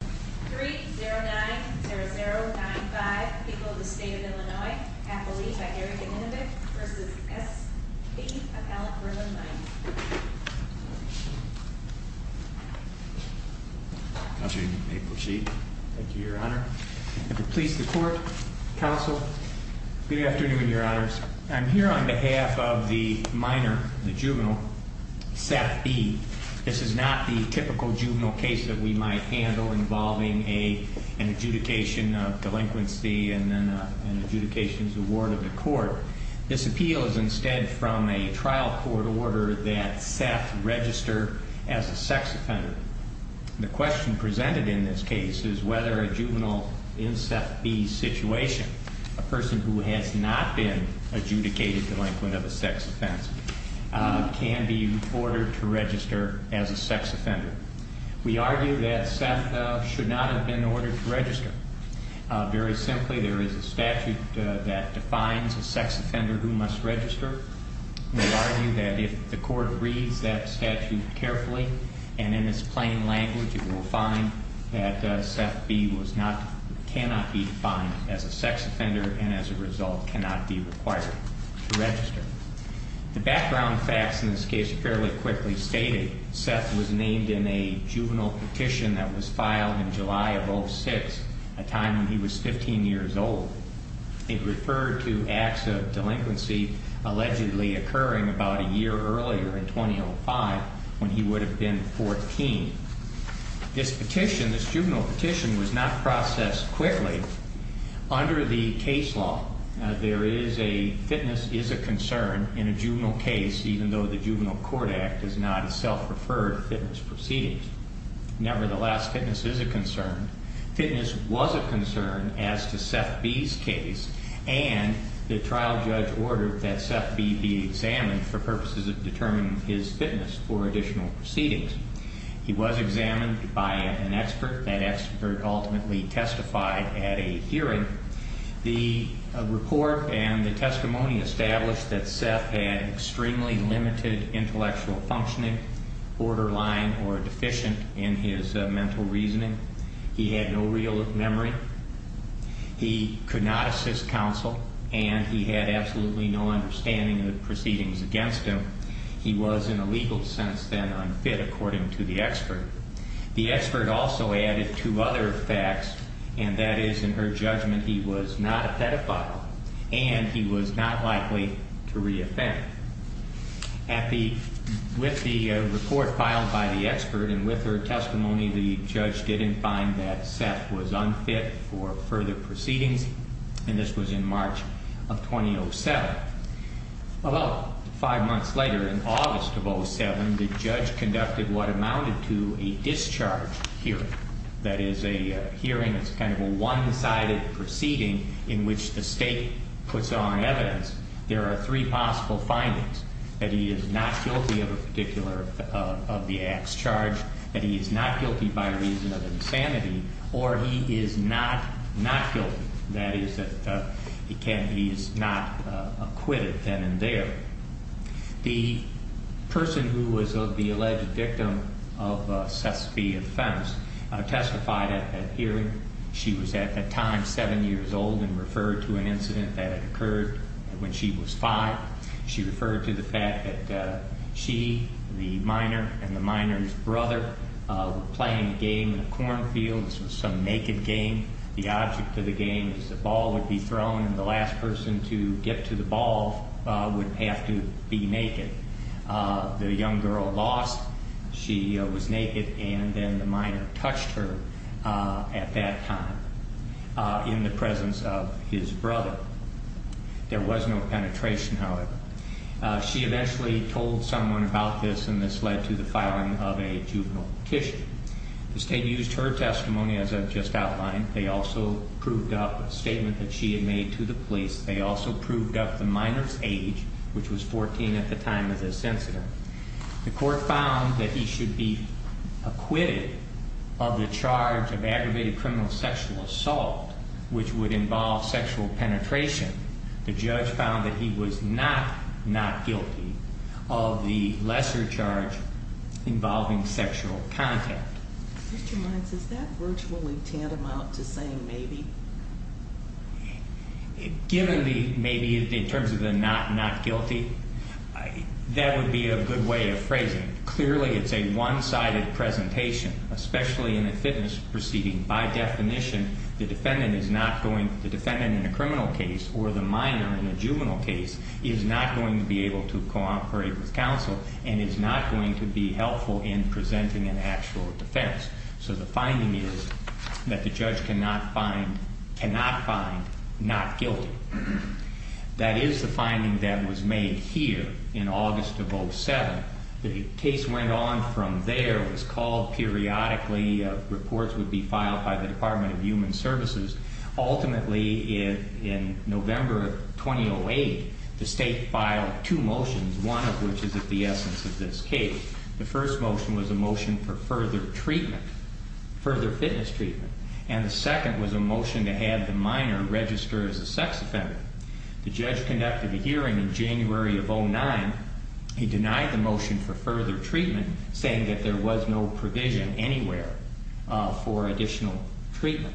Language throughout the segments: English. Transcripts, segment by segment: of Alan Berlin, V. Thank you, Your Honor. If it pleases the Court, Counsel. Good afternoon, Your Honors. I'm here on behalf of the minor, the juvenile, Seth B. This is not the typical case involving an adjudication of delinquency and an adjudication's award of the court. This appeal is instead from a trial court order that Seth register as a sex offender. The question presented in this case is whether a juvenile in Seth B.'s situation, a person who has not been adjudicated delinquent of a sex offense, can be ordered to register as a sex offender. We argue that Seth should not have been ordered to register. Very simply, there is a statute that defines a sex offender who must register. We argue that if the court reads that statute carefully and in its plain language, it will find that Seth B. was not, cannot be defined as a sex offender and as a result cannot be required to register. The case in question, Seth was named in a juvenile petition that was filed in July of 06, a time when he was 15 years old. It referred to acts of delinquency allegedly occurring about a year earlier, in 2005, when he would have been 14. This petition, this juvenile petition, was not processed quickly. Under the case law, there is a, fitness is a concern in a juvenile court act is not a self-referred fitness proceeding. Nevertheless, fitness is a concern. Fitness was a concern as to Seth B.'s case and the trial judge ordered that Seth B. be examined for purposes of determining his fitness for additional proceedings. He was examined by an expert. That expert ultimately testified at a hearing. The report and the expert said that Seth B. was not fit, intellectual functioning, borderline or deficient in his mental reasoning. He had no real memory. He could not assist counsel and he had absolutely no understanding of the proceedings against him. He was in a legal sense then unfit, according to the expert. The expert also added two other facts, and that is in her judgment, he was not a pedophile and he was not likely to reoffend. At the, with the report filed by the expert and with her testimony, the judge didn't find that Seth was unfit for further proceedings and this was in March of 2007. About five months later, in August of 07, the judge conducted what amounted to a discharge hearing. That is a hearing, it's kind of a one-sided proceeding in which the state puts on evidence. There are three possible findings, that he is not guilty of a particular, of the ax charge, that he is not guilty by reason of insanity, or he is not, not guilty. That is that he can, he is not acquitted then and there. The person who was of the alleged victim of Seth B.'s offense testified at that hearing. She was at that time seven years old and referred to an incident that had occurred when she was five. She referred to the fact that she, the minor, and the minor's brother were playing a game in a cornfield. This was some naked game. The object of the game is the ball would be thrown and the last person to get to the ball would have to be naked. The young girl lost. She was naked and then the minor touched her at that time in the presence of his brother. There was no penetration, however. She eventually told someone about this and this led to the filing of a juvenile petition. The state used her testimony as I've just outlined. They also proved up a statement that she had made to the police. They also proved up the minor's age, which was 14 at the time of this incident. The court found that he should be acquitted of the charge of aggravated criminal sexual assault, which would involve sexual penetration. The judge found that he was not not guilty of the lesser charge involving sexual contact. Is that virtually tantamount to saying maybe? Given the maybe in terms of the not guilty, that would be a good way of phrasing it. Clearly it's a one-sided presentation, especially in a fitness proceeding. By definition, the defendant in a criminal case or the minor in a juvenile case is not going to be able to cooperate with counsel and is not going to be helpful in presenting an actual defense. So the finding is that the judge cannot find not guilty. That is the finding that was made here in August of 07. The case went on from there. It was called periodically. Reports would be filed by the Department of Human Services. Ultimately, in November 2008, the judge issued two motions, one of which is at the essence of this case. The first motion was a motion for further treatment, further fitness treatment. And the second was a motion to have the minor register as a sex offender. The judge conducted a hearing in January of 09. He denied the motion for further treatment, saying that there was no provision anywhere for additional treatment.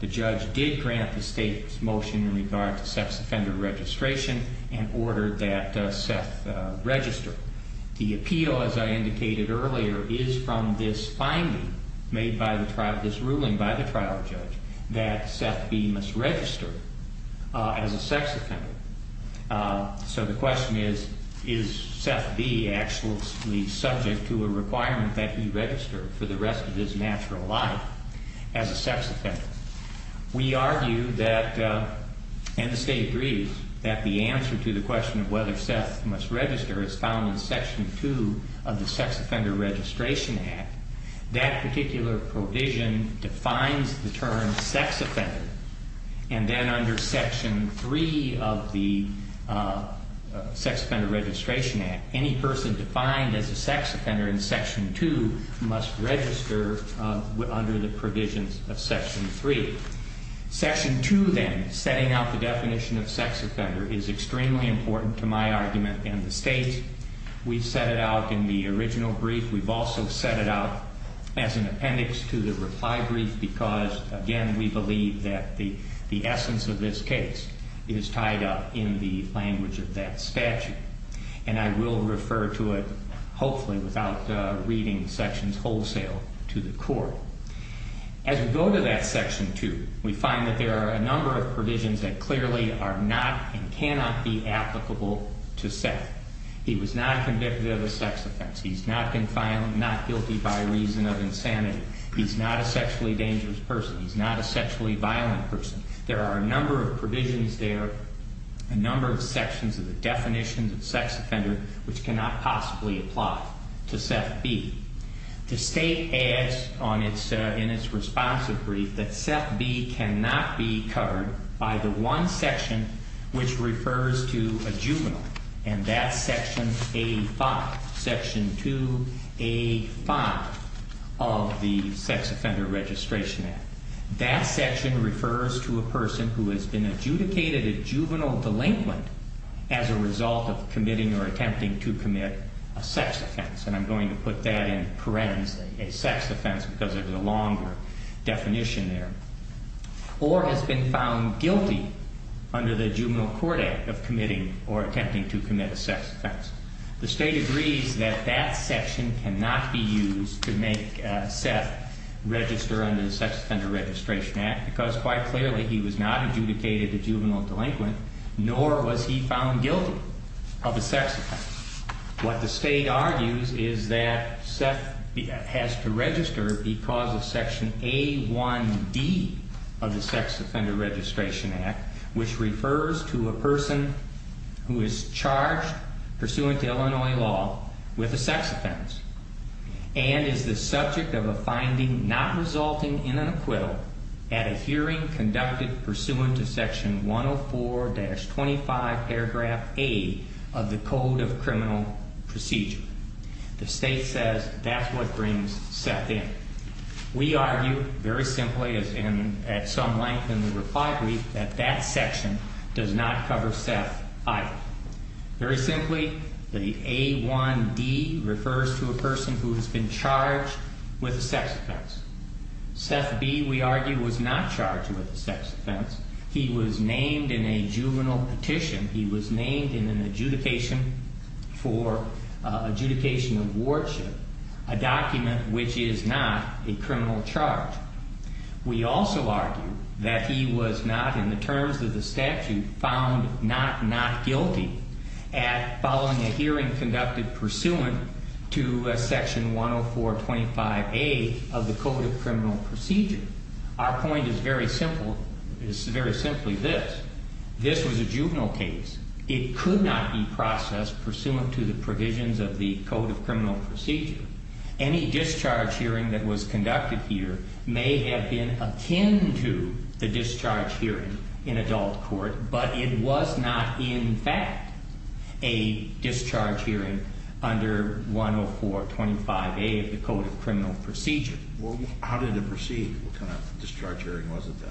The judge did grant the state's motion in regard to sex offender registration and ordered that Seth register. The appeal, as I indicated earlier, is from this finding made by the trial, this ruling by the trial judge, that Seth B. must register as a sex offender. So the question is, is Seth B. actually subject to a requirement that he register for the rest of his natural life as a sex offender? We argue that, and the state agrees, that the answer to the question of whether Seth must register is found in Section 2 of the Sex Offender Registration Act. That particular provision defines the term sex offender. And then under Section 3 of the Sex Offender Registration Act, any person defined as a sex offender in Section 2 must register under the provisions of Section 3. Section 2, then, setting out the definition of sex offender is extremely important to my argument and the state. We set it out in the original brief. We've also set it out as an appendix to the reply brief because, again, we believe that the essence of this statute, and I will refer to it, hopefully, without reading sections wholesale to the court. As we go to that Section 2, we find that there are a number of provisions that clearly are not and cannot be applicable to Seth. He was not convicted of a sex offense. He's not been found not guilty by reason of insanity. He's not a sexually dangerous person. He's not a sexually violent person. There are a number of provisions there, a number of definitions of sex offender which cannot possibly apply to Seth B. The state adds in its responsive brief that Seth B. cannot be covered by the one section which refers to a juvenile, and that's Section 85, Section 2A5 of the Sex Offender Registration Act. That section refers to a person who has been adjudicated a juvenile delinquent as a result of committing or attempting to commit a sex offense, and I'm going to put that in parens, a sex offense, because there's a longer definition there, or has been found guilty under the Juvenile Court Act of committing or attempting to commit a sex offense. The state agrees that that section cannot be used to make Seth register under the Sex Offender Registration Act because, quite clearly, he was not adjudicated a juvenile delinquent, nor was he found guilty of a sex offense. What the state argues is that Seth has to register because of Section A1D of the Sex Offender Registration Act, which refers to a person who is charged pursuant to Illinois law with a sex offense, and is the subject of a finding not resulting in an acquittal at a hearing conducted pursuant to Section 104-25 paragraph A of the Code of Criminal Procedure. The state says that's what brings Seth in. We argue, very simply, and at some length in the reply brief, that that section does not cover Seth either. Very simply, the A1D refers to a person who has been charged with a sex offense. Seth B, we argue, was not charged with a sex offense. He was named in a juvenile petition. He was named in an adjudication for adjudication of wardship, a document which is not a criminal charge. We also argue that he was not, in the terms of the statute, found not not guilty at following a hearing conducted pursuant to Section 104-25 A of the Code of Criminal Procedure. Our point is very simple. It's very simply this. This was a juvenile case. It could not be processed pursuant to the provisions of the Code of Criminal Procedure. Any discharge hearing that was conducted here may have been akin to the discharge hearing in adult court, but it was not, in fact, a discharge hearing under 104-25 A of the Code of Criminal Procedure. Well, how did it proceed? What kind of discharge hearing was it then?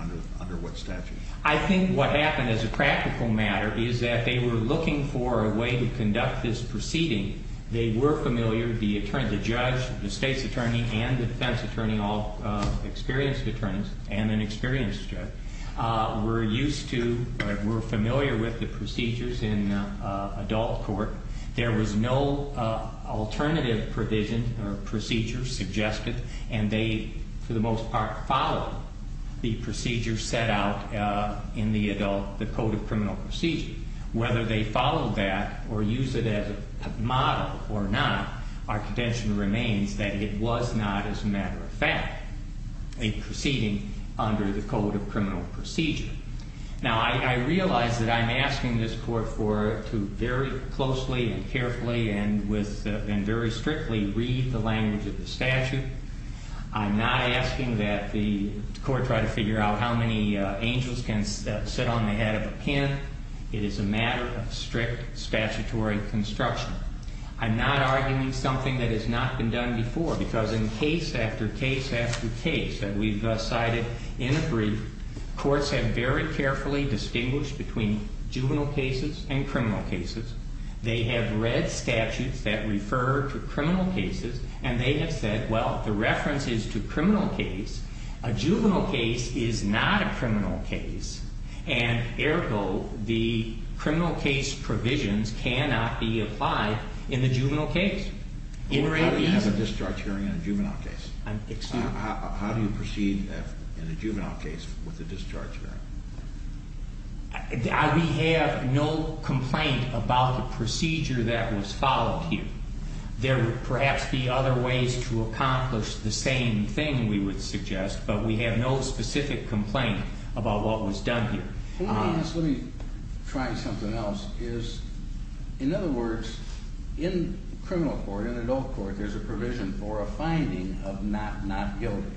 Under what statute? I think what happened as a practical matter is that they were looking for a way to conduct this proceeding. They were familiar, the judge, the state's attorney, and the defense attorney, all experienced attorneys, and an experienced judge, were used to, were familiar with the alternative provision or procedure suggested, and they, for the most part, followed the procedure set out in the adult, the Code of Criminal Procedure. Whether they followed that or used it as a model or not, our contention remains that it was not, as a matter of fact, a proceeding under the Code of Criminal Procedure. Now, I realize that I'm asking this Court for, to very closely and carefully and with, and very strictly read the language of the statute. I'm not asking that the Court try to figure out how many angels can sit on the head of a pin. It is a matter of strict statutory construction. I'm not arguing something that has not been done before, because in case after case after case that we've cited in a brief, courts have very carefully distinguished between juvenile cases and criminal cases. They have read statutes that refer to criminal cases, and they have said, well, the reference is to criminal case. A juvenile case is not a criminal case, and, ergo, the criminal case provisions cannot be applied in the juvenile case. How do you have a discharge hearing in a juvenile case? Excuse me? How do you proceed in a juvenile case with a discharge hearing? We have no complaint about the procedure that was followed here. There would perhaps be other ways to accomplish the same thing, we would suggest, but we have no specific complaint about what was done here. Let me try something else. In other words, in criminal court, in adult court, there's a provision for a finding of not not guilty.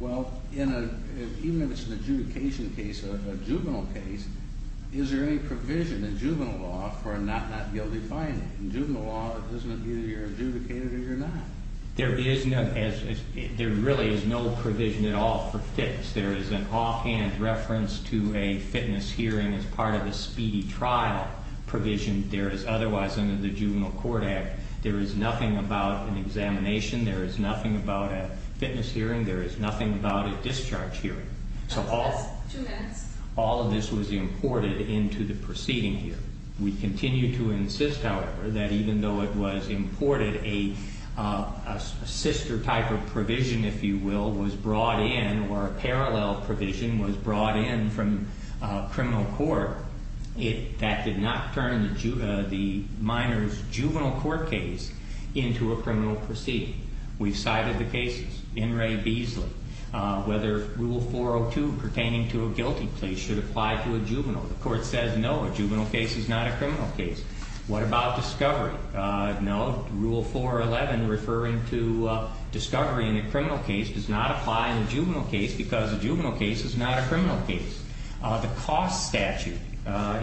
Well, even if it's an adjudication case, a juvenile case, is there any provision in juvenile law for a not not guilty finding? In juvenile law, it doesn't mean that you're adjudicated or you're not. There really is no provision at all for fitness. There is an offhand reference to a fitness hearing as part of a speedy trial provision. There is otherwise, under the Juvenile Court Act, there is nothing about an examination, there is nothing about a fitness hearing, there is nothing about a discharge hearing. That's two minutes. All of this was imported into the proceeding here. We continue to insist, however, that even though it was imported, a sister type of provision, if you will, was brought in or a parallel provision was brought in from criminal court that did not turn the minor's juvenile court case into a criminal proceeding. We've cited the cases. In Ray Beasley, whether Rule 402 pertaining to a guilty plea should apply to a juvenile. The court says no, a juvenile case is not a criminal case. The cost statute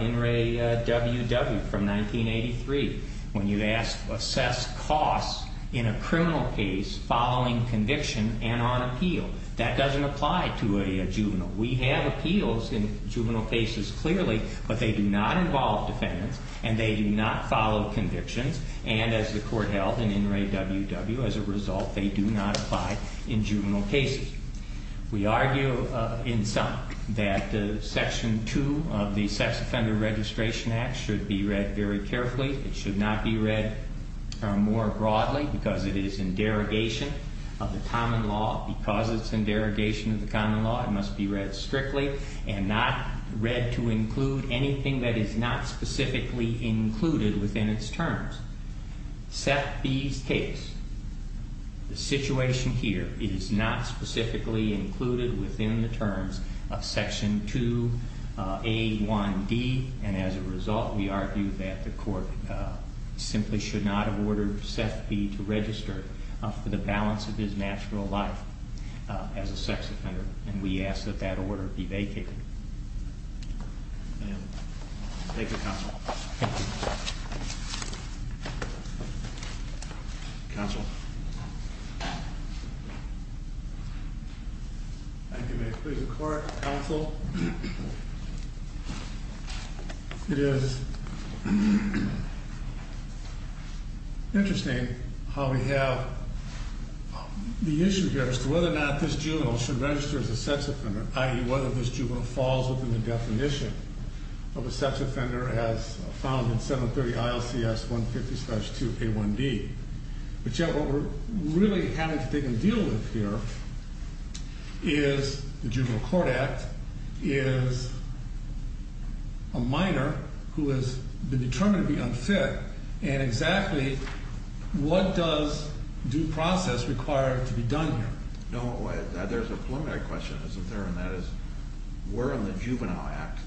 in Ray W.W. from 1983, when you assess costs in a criminal case following conviction and on appeal, that doesn't apply to a juvenile. We have appeals in juvenile cases clearly, but they do not involve defendants and they do not follow convictions, and as the court held in Ray W.W., as a result, they do not apply in juvenile cases. We argue in sum that Section 2 of the Sex Offender Registration Act should be read very carefully. It should not be read more broadly because it is in derogation of the common law. Because it's in derogation of the common law, it must be read strictly and not read to include anything that is not specifically included within its terms. Seth B.'s case, the situation here is not specifically included within the terms of Section 2A1D, and as a result, we argue that the court simply should not have ordered Seth B. to register for the balance of his natural life as a sex offender, and we ask that that order be vacated. Thank you, Counsel. Counsel. Thank you, Mayor. Please record, Counsel. It is interesting how we have the issue here as to whether or not this juvenile should fall within the definition of a sex offender as found in 730 ILCS 150-2A1D. But yet what we're really having to deal with here is the Juvenile Court Act, is a minor who has been determined to be unfit, and exactly what does due process require to be done here? No, there's a preliminary question, isn't there? And that is, we're in the Juvenile Act.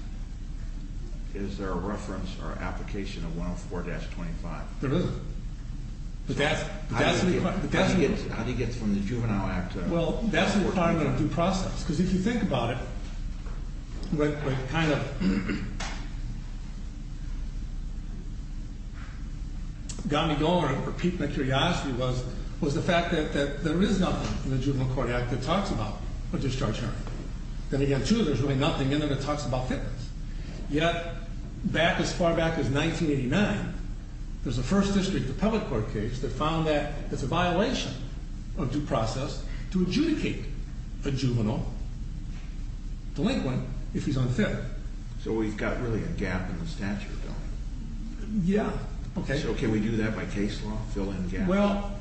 Is there a reference or application of 104-25? There isn't. How do you get from the Juvenile Act? Well, that's the requirement of due process, because if you think about it, what kind of got me going, or piqued my curiosity was, was the fact that there is nothing in the Juvenile Court Act that talks about a discharge hearing. Then again, too, there's really nothing in there that talks about fitness. Yet, back as far back as 1989, there's a First District of Public Court case that found that it's a violation of due process to adjudicate a juvenile delinquent if he's unfit. So can we do that by case law, fill in gaps? Well,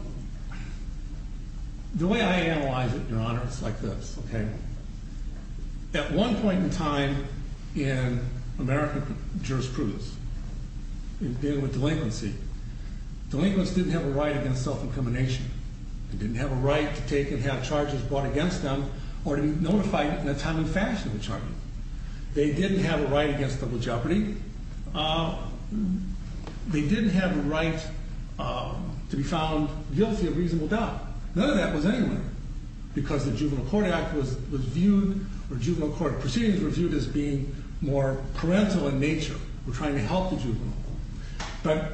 the way I analyze it, Your Honor, it's like this. At one point in time in American jurisprudence, in dealing with delinquency, delinquents didn't have a right against self-incrimination. They didn't have a right to take and have charges brought against them or to be notified in a timely fashion of a charge. They didn't have a right against double jeopardy. They didn't have a right to be found guilty of reasonable doubt. None of that was anywhere, because the Juvenile Court Act was viewed, or juvenile court proceedings were viewed as being more parental in nature. We're trying to help the juvenile. But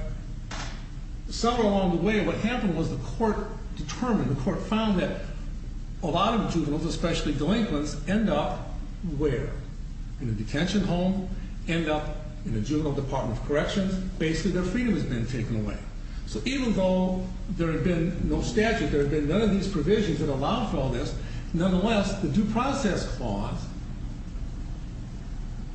somewhere along the way, what happened was the court determined, the court found that a lot of juveniles, especially delinquents, end up where? In a detention home? End up in the juvenile department of corrections? Basically, their freedom has been taken away. So even though there had been no statute, there had been none of these provisions that allowed for all this, nonetheless, the due process clause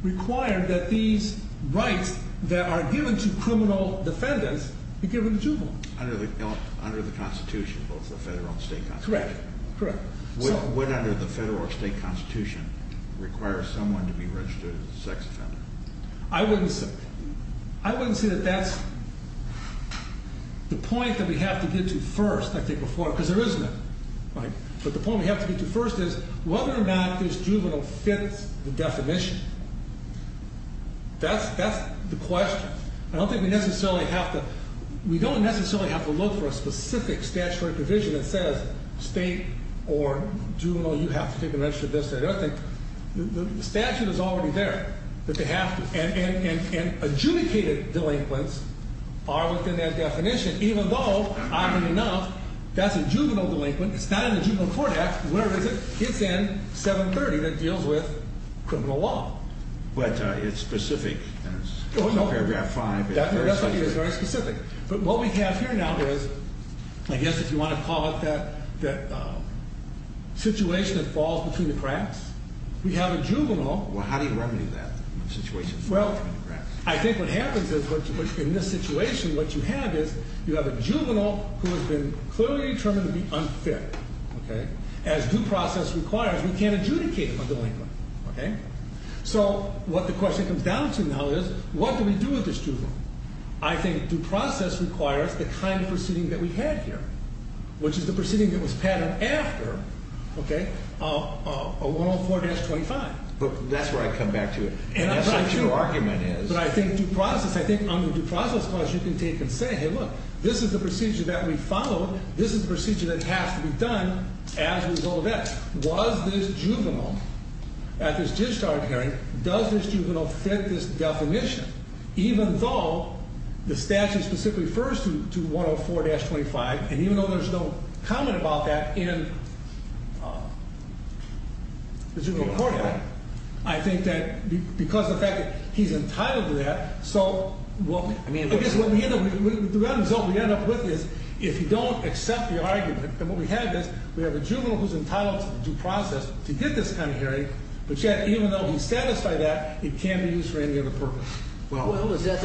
required that these rights that are given to criminal defendants be given to juveniles. Under the Constitution, both the federal and state constitution. Correct, correct. Would, under the federal or state constitution, require someone to be registered as a sex offender? I wouldn't say that. I wouldn't say that that's the point that we have to get to first, I think, before, because there is none. But the point we have to get to first is whether or not this juvenile fits the definition. That's the question. I don't think we necessarily have to, we don't necessarily have to look for a specific statutory provision that says, state or juvenile, you have to take a measure of this or that. I think the statute is already there, that they have to. And adjudicated delinquents are within that definition, even though, oddly enough, that's a juvenile delinquent. It's not in the Juvenile Court Act. Where is it? It's in 730 that deals with criminal law. But it's specific. It's paragraph 5. It's very specific. But what we have here now is, I guess if you want to call it that situation that falls between the cracks, we have a juvenile. Well, how do you remedy that situation? Well, I think what happens is, in this situation, what you have is, you have a juvenile who has been clearly determined to be unfit. As due process requires, we can't adjudicate a delinquent. Okay? So what the question comes down to now is, what do we do with this juvenile? I think due process requires the kind of proceeding that we had here, which is the proceeding that was patterned after, okay, 104-25. But that's where I come back to it. And I think, too. That's what your argument is. But I think due process, I think under due process clause, you can take and say, hey, look, this is the procedure that we followed. This is the procedure that has to be done as a result of that. Was this juvenile, at this discharge hearing, does this juvenile fit this definition? Even though the statute specifically refers to 104-25, and even though there's no comment about that in the Juvenile Court Act, I think that because of the fact that he's entitled to that, so what we end up with is, if you don't accept the argument and what we have is, we have a juvenile who's entitled to due process to get this kind of hearing, but yet even though he's satisfied that, it can't be used for any other purpose. Well, isn't that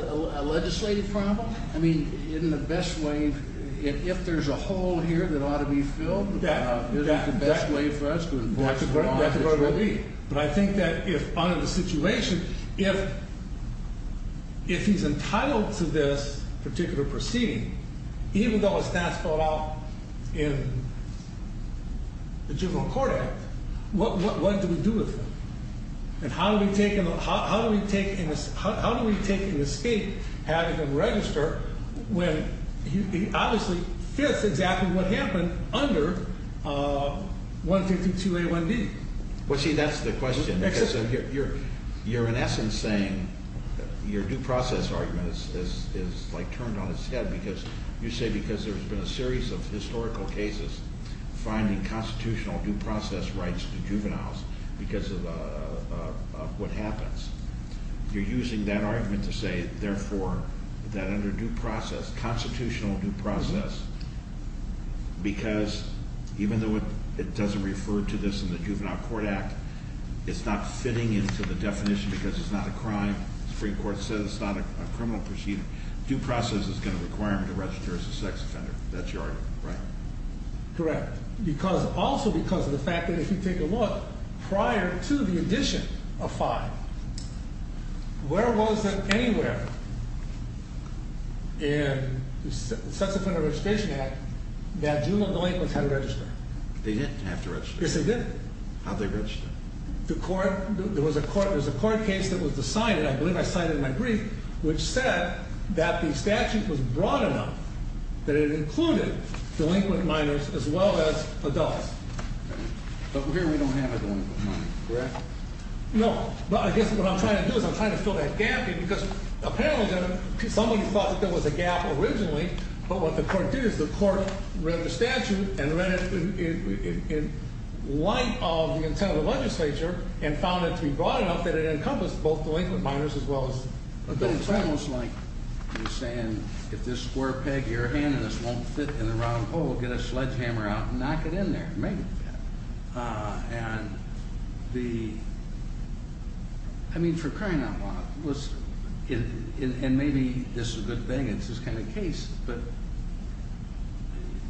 a legislative problem? I mean, isn't the best way, if there's a hole here that ought to be filled, isn't the best way for us to enforce the law? That's where it will be. But I think that if, under the situation, if he's entitled to this particular proceeding, even though it's not spelled out in the Juvenile Court Act, what do we do with him? And how do we take an escape having him register when he obviously fits exactly what happened under 152A1B? Well, see, that's the question. You're in essence saying, your due process argument is like turned on its head because you say because there's been a series of historical cases finding constitutional due process rights to juveniles because of what happens. You're using that argument to say, therefore, that under due process, constitutional due process, because even though it doesn't refer to this in the Juvenile Court Act, it's not fitting into the definition because it's not a crime. The Supreme Court says it's not a criminal proceeding. Due process is going to require him to register as a sex offender. That's your argument, right? Correct. Because, also because of the fact that if you take a look, prior to the addition of and the Sex Offender Registration Act, that juvenile delinquents had to register. They didn't have to register. Yes, they didn't. How'd they register? There was a court case that was decided, I believe I cited in my brief, which said that the statute was broad enough that it included delinquent minors as well as adults. But here we don't have a delinquent minor, correct? No, but I guess what I'm trying to do is I'm trying to fill that gap because apparently somebody thought that there was a gap originally, but what the court did is the court read the statute and read it in light of the intent of the legislature and found it to be broad enough that it encompassed both delinquent minors as well as adults. It's almost like you're saying, if this square peg of your hand in this won't fit in the round hole, get a sledgehammer out and knock it in there. Maybe. And the, I mean, for crying out loud, and maybe this is a good thing, it's this kind of case, but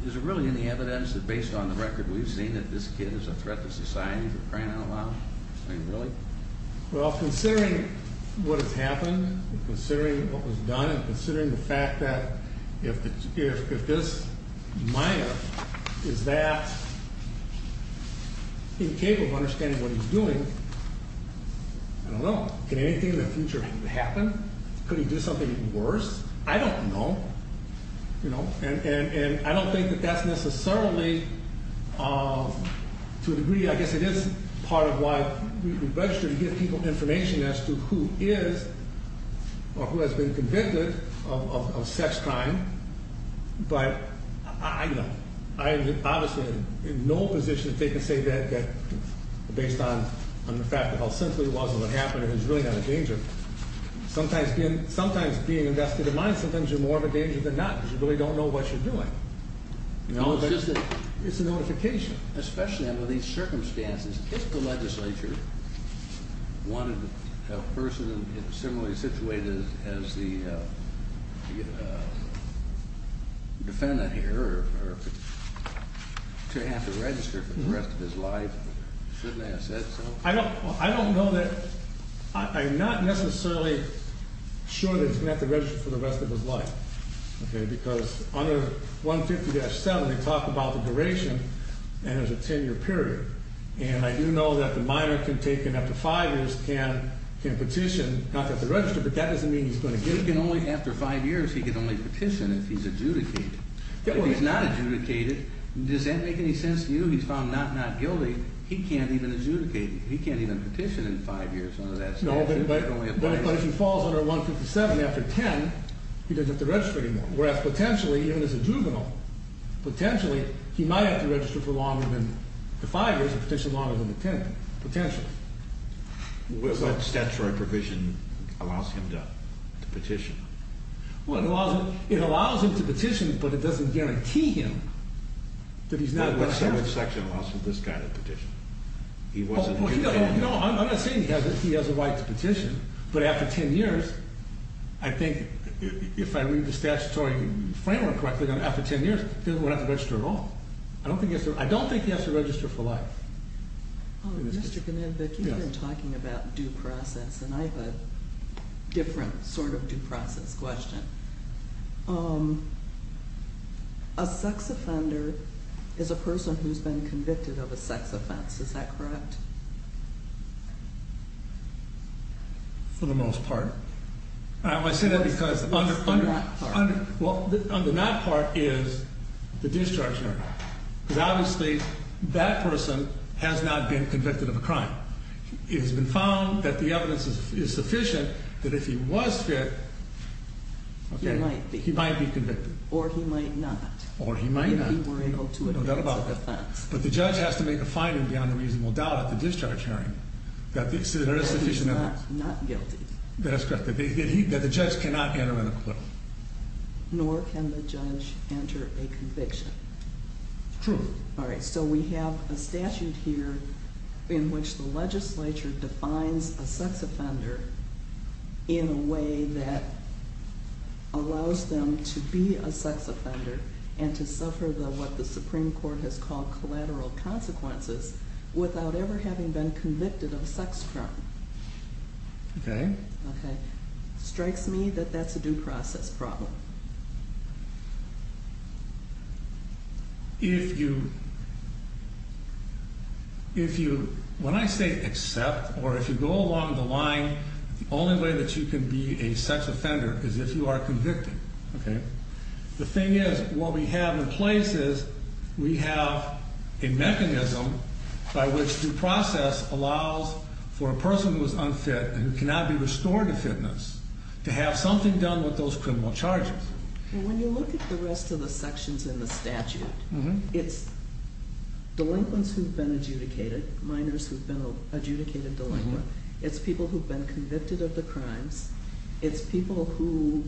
is there really any evidence that based on the record we've seen that this kid is a threat to society for crying out loud? I mean, really? Well, considering what has happened and considering what was done and considering the fact that if this minor is that incapable of understanding what he's doing, I don't know. Can anything in the future happen? Could he do something worse? I don't know. And I don't think that that's necessarily, to a degree, I guess it is part of why we register to give people information as to who is or who has been convicted of sex crime. But I don't know. I am obviously in no position to say that based on the fact that how simply it was and what happened is really not a danger. Sometimes being invested in mind, sometimes you're more of a danger than not because you really don't know what you're doing. It's a notification. Especially under these circumstances, if the legislature wanted a person similarly situated as the defendant here to have to register for the rest of his life, shouldn't they have said so? I don't know. I'm not necessarily sure that he's going to have to register for the rest of his life because under 150-7 they talk about the duration, and there's a 10-year period. And I do know that the minor can take it up to five years, can petition, not that they register, but that doesn't mean he's going to get it. He can only, after five years, he can only petition if he's adjudicated. If he's not adjudicated, does that make any sense to you? He's found not not guilty. He can't even adjudicate. He can't even petition in five years under that statute. But if he falls under 157 after 10, he doesn't have to register anymore. Whereas potentially, even as a juvenile, potentially he might have to register for longer than the five years and petition longer than the 10, potentially. What statutory provision allows him to petition? It allows him to petition, but it doesn't guarantee him that he's not going to have to. What statute section allows for this kind of petition? I'm not saying he has a right to petition. But after 10 years, I think if I read the statutory framework correctly, after 10 years, he doesn't have to register at all. I don't think he has to register for life. Mr. Gnabik, you've been talking about due process, and I have a different sort of due process question. A sex offender is a person who's been convicted of a sex offense. Is that correct? For the most part. I say that because under that part is the discharge note. Because obviously that person has not been convicted of a crime. It has been found that the evidence is sufficient that if he was fit, he might be convicted. Or he might not. Or he might not. If he were able to advance a defense. But the judge has to make a finding beyond a reasonable doubt at the discharge hearing that there is sufficient evidence. That he's not guilty. That's correct. That the judge cannot enter an acquittal. Nor can the judge enter a conviction. True. All right, so we have a statute here in which the legislature defines a sex offender in a way that allows them to be a sex offender. And to suffer what the Supreme Court has called collateral consequences without ever having been convicted of a sex crime. Okay. Okay. Strikes me that that's a due process problem. If you, if you, when I say accept or if you go along the line, the only way that you can be a sex offender is if you are convicted. Okay. The thing is, what we have in place is we have a mechanism by which due process allows for a person who is unfit and cannot be restored to fitness. To have something done with those criminal charges. When you look at the rest of the sections in the statute, it's delinquents who've been adjudicated. Minors who've been adjudicated delinquent. It's people who've been convicted of the crimes. It's people who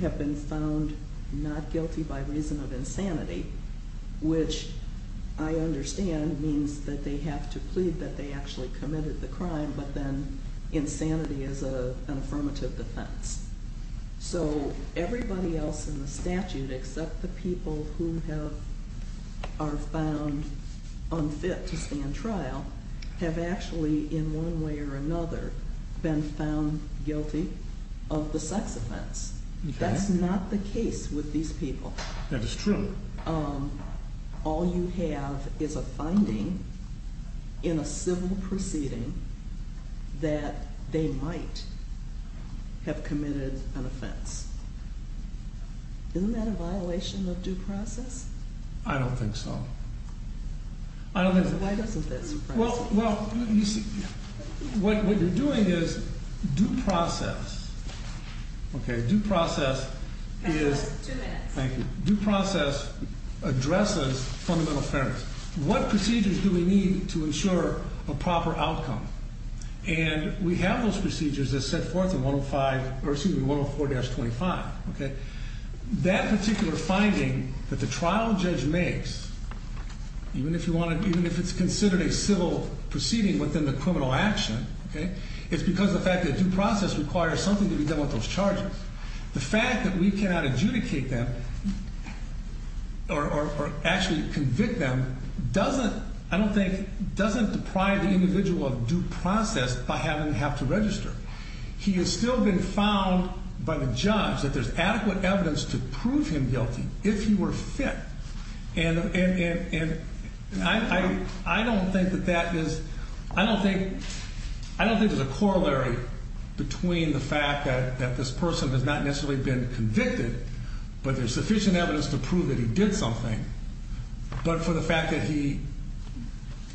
have been found not guilty by reason of insanity. Which I understand means that they have to plead that they actually committed the crime. But then insanity is an affirmative defense. So everybody else in the statute except the people who have, are found unfit to stand trial. Have actually in one way or another been found guilty of the sex offense. Okay. That's not the case with these people. That is true. All you have is a finding in a civil proceeding that they might have committed an offense. Isn't that a violation of due process? I don't think so. I don't think so. Why doesn't that surprise you? Well, you see, what you're doing is due process. Okay. Due process is. Two minutes. Thank you. Due process addresses fundamental fairness. What procedures do we need to ensure a proper outcome? And we have those procedures as set forth in 104-25. That particular finding that the trial judge makes, even if it's considered a civil proceeding within the criminal action, it's because of the fact that due process requires something to be done with those charges. The fact that we cannot adjudicate them or actually convict them doesn't, I don't think, doesn't deprive the individual of due process by having to have to register. He has still been found by the judge that there's adequate evidence to prove him guilty if he were fit. And I don't think that that is, I don't think there's a corollary between the fact that this person has not necessarily been convicted, but there's sufficient evidence to prove that he did something, but for the fact that he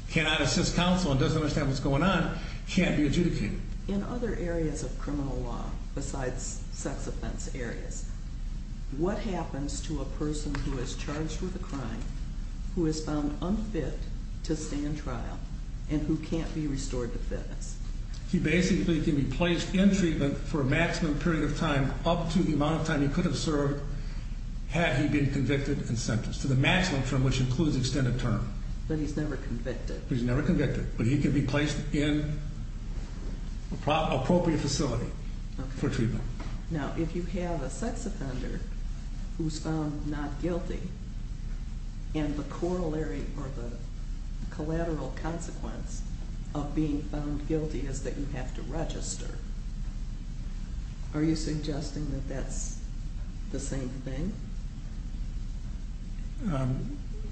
cannot assist counsel and doesn't understand what's going on, can't be adjudicated. In other areas of criminal law, besides sex offense areas, what happens to a person who is charged with a crime, who is found unfit to stand trial, and who can't be restored to fitness? He basically can be placed in treatment for a maximum period of time up to the amount of time he could have served had he been convicted and sentenced, to the maximum term, which includes extended term. But he's never convicted. He's never convicted, but he can be placed in an appropriate facility for treatment. Now, if you have a sex offender who's found not guilty, and the corollary or the collateral consequence of being found guilty is that you have to register, are you suggesting that that's the same thing?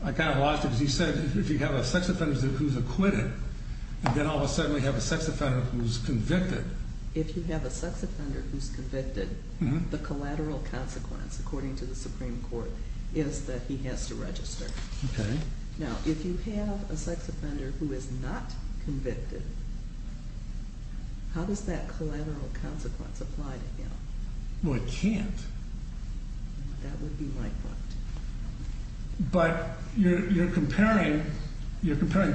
I kind of lost it because you said if you have a sex offender who's acquitted, and then all of a sudden we have a sex offender who's convicted. If you have a sex offender who's convicted, the collateral consequence, according to the Supreme Court, is that he has to register. Okay. Now, if you have a sex offender who is not convicted, how does that collateral consequence apply to him? Well, it can't. That would be my point. But you're comparing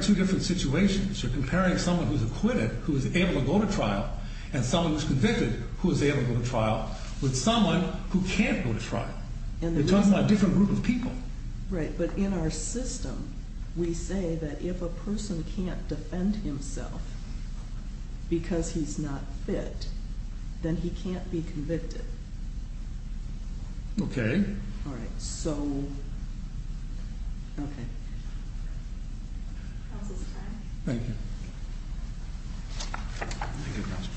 two different situations. You're comparing someone who's acquitted who is able to go to trial and someone who's convicted who is able to go to trial with someone who can't go to trial. You're talking about a different group of people. Right, but in our system, we say that if a person can't defend himself because he's not fit, then he can't be convicted. Okay. All right, so, okay. Counsel's time. Thank you. Thank you, Counsel.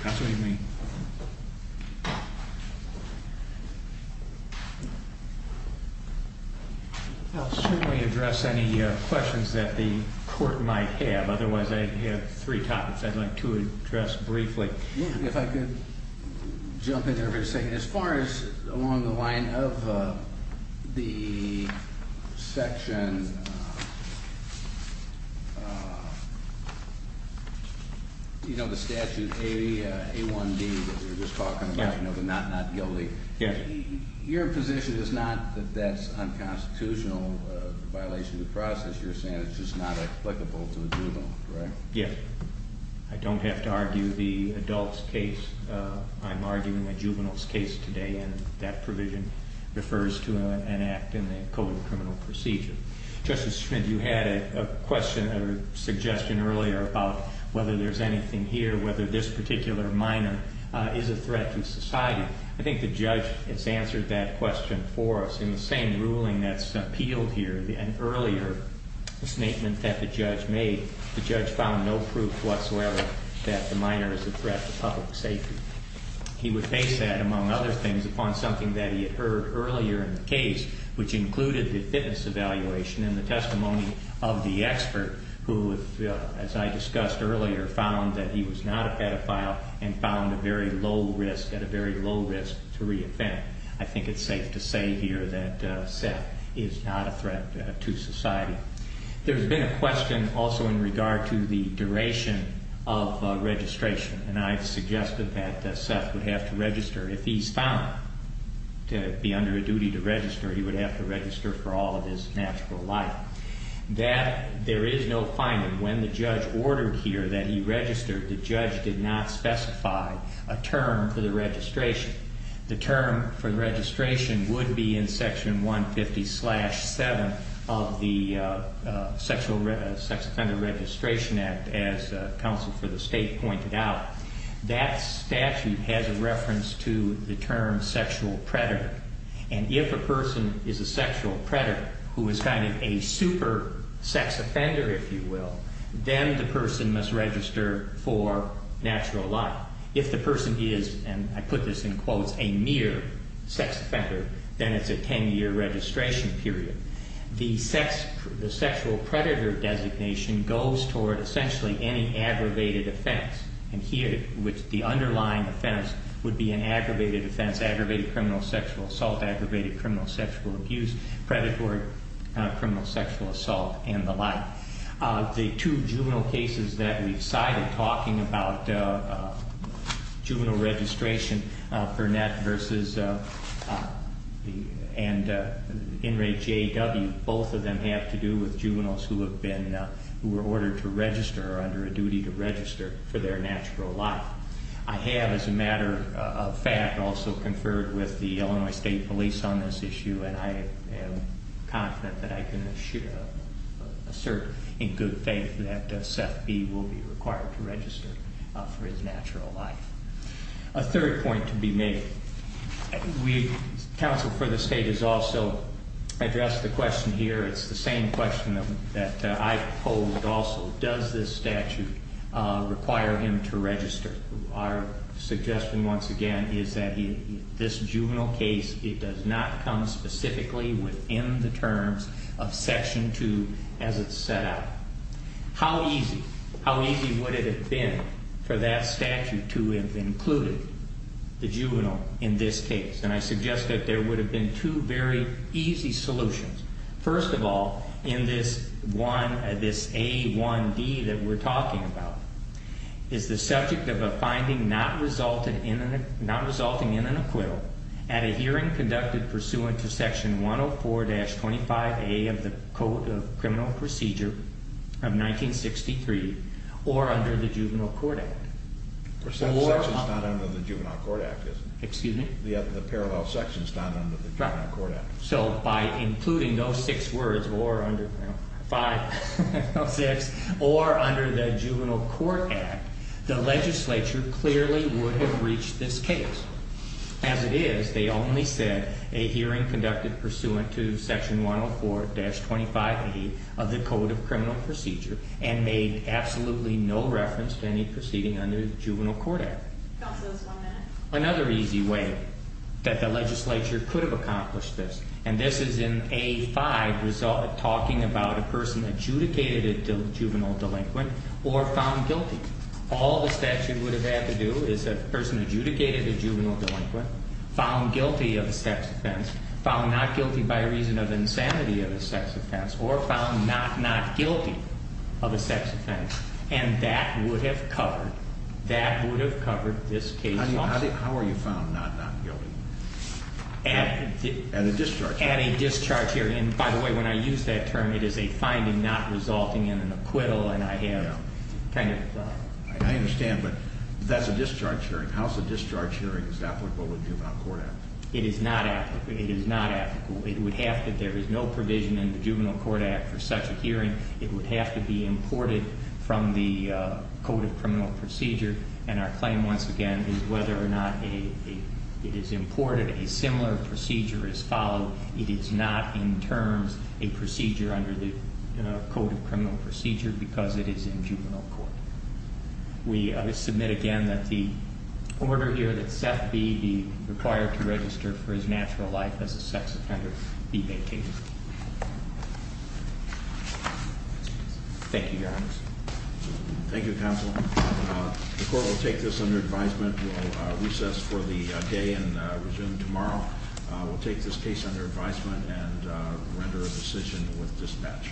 Counsel, what do you mean? I'll certainly address any questions that the court might have. Otherwise, I have three topics I'd like to address briefly. If I could jump in here for a second. As far as along the line of the section, you know, the statute, A1D, that we were just talking about, you know, the not guilty. Yes. Your position is not that that's unconstitutional, a violation of the process. You're saying it's just not applicable to a juvenile, correct? Yes. I don't have to argue the adult's case. I'm arguing a juvenile's case today, and that provision refers to an act in the Code of Criminal Procedure. Justice Schmidt, you had a question or suggestion earlier about whether there's anything here, whether this particular minor is a threat to society. I think the judge has answered that question for us. In the same ruling that's appealed here and earlier, the statement that the judge made, the judge found no proof whatsoever that the minor is a threat to public safety. He would base that, among other things, upon something that he had heard earlier in the case, which included the fitness evaluation and the testimony of the expert who, as I discussed earlier, found that he was not a pedophile and found a very low risk, at a very low risk, to reoffend. I think it's safe to say here that Seth is not a threat to society. There's been a question also in regard to the duration of registration, and I've suggested that Seth would have to register. If he's found to be under a duty to register, he would have to register for all of his natural life. There is no finding when the judge ordered here that he register. The judge did not specify a term for the registration. The term for the registration would be in Section 150-7 of the Sex Offender Registration Act, as counsel for the state pointed out. That statute has a reference to the term sexual predator, and if a person is a sexual predator who is kind of a super sex offender, if you will, then the person must register for natural life. If the person is, and I put this in quotes, a mere sex offender, then it's a 10-year registration period. The sexual predator designation goes toward essentially any aggravated offense, and here the underlying offense would be an aggravated offense, aggravated criminal sexual assault, aggravated criminal sexual abuse, predatory criminal sexual assault, and the like. The two juvenile cases that we've cited talking about juvenile registration, Burnett v. and Inmate J.W., both of them have to do with juveniles who have been, who were ordered to register or under a duty to register for their natural life. I have, as a matter of fact, also conferred with the Illinois State Police on this issue, and I am confident that I can assert in good faith that Seth B. will be required to register for his natural life. A third point to be made. Counsel for the state has also addressed the question here. It's the same question that I've polled also. Does this statute require him to register? Our suggestion, once again, is that this juvenile case, it does not come specifically within the terms of Section 2 as it's set out. How easy, how easy would it have been for that statute to have included the juvenile in this case? And I suggest that there would have been two very easy solutions. First of all, in this A1D that we're talking about is the subject of a finding not resulting in an acquittal at a hearing conducted pursuant to Section 104-25A of the Code of Criminal Procedure of 1963 or under the Juvenile Court Act. Except the section's not under the Juvenile Court Act, isn't it? Excuse me? The parallel section's not under the Juvenile Court Act. So by including those six words, or under 5, 6, or under the Juvenile Court Act, the legislature clearly would have reached this case. As it is, they only said a hearing conducted pursuant to Section 104-25A of the Code of Criminal Procedure and made absolutely no reference to any proceeding under the Juvenile Court Act. Counsel, just one minute. Another easy way that the legislature could have accomplished this, and this is in A5 talking about a person adjudicated a juvenile delinquent or found guilty. All the statute would have had to do is a person adjudicated a juvenile delinquent, found guilty of a sex offense, found not guilty by reason of insanity of a sex offense, or found not not guilty of a sex offense, and that would have covered this case also. How are you found not not guilty? At a discharge hearing. At a discharge hearing. And by the way, when I use that term, it is a finding not resulting in an acquittal, and I have kind of... I understand, but that's a discharge hearing. How is a discharge hearing applicable to the Juvenile Court Act? It is not applicable. It would have to... there is no provision in the Juvenile Court Act for such a hearing. It would have to be imported from the Code of Criminal Procedure, and our claim, once again, is whether or not it is imported. A similar procedure is followed. It is not in terms a procedure under the Code of Criminal Procedure because it is in juvenile court. We submit again that the order here that Seth B. be required to register for his natural life as a sex offender be vacated. Thank you, Your Honors. Thank you, Counsel. The court will take this under advisement. We'll recess for the day and resume tomorrow. We'll take this case under advisement and render a decision with dispatch.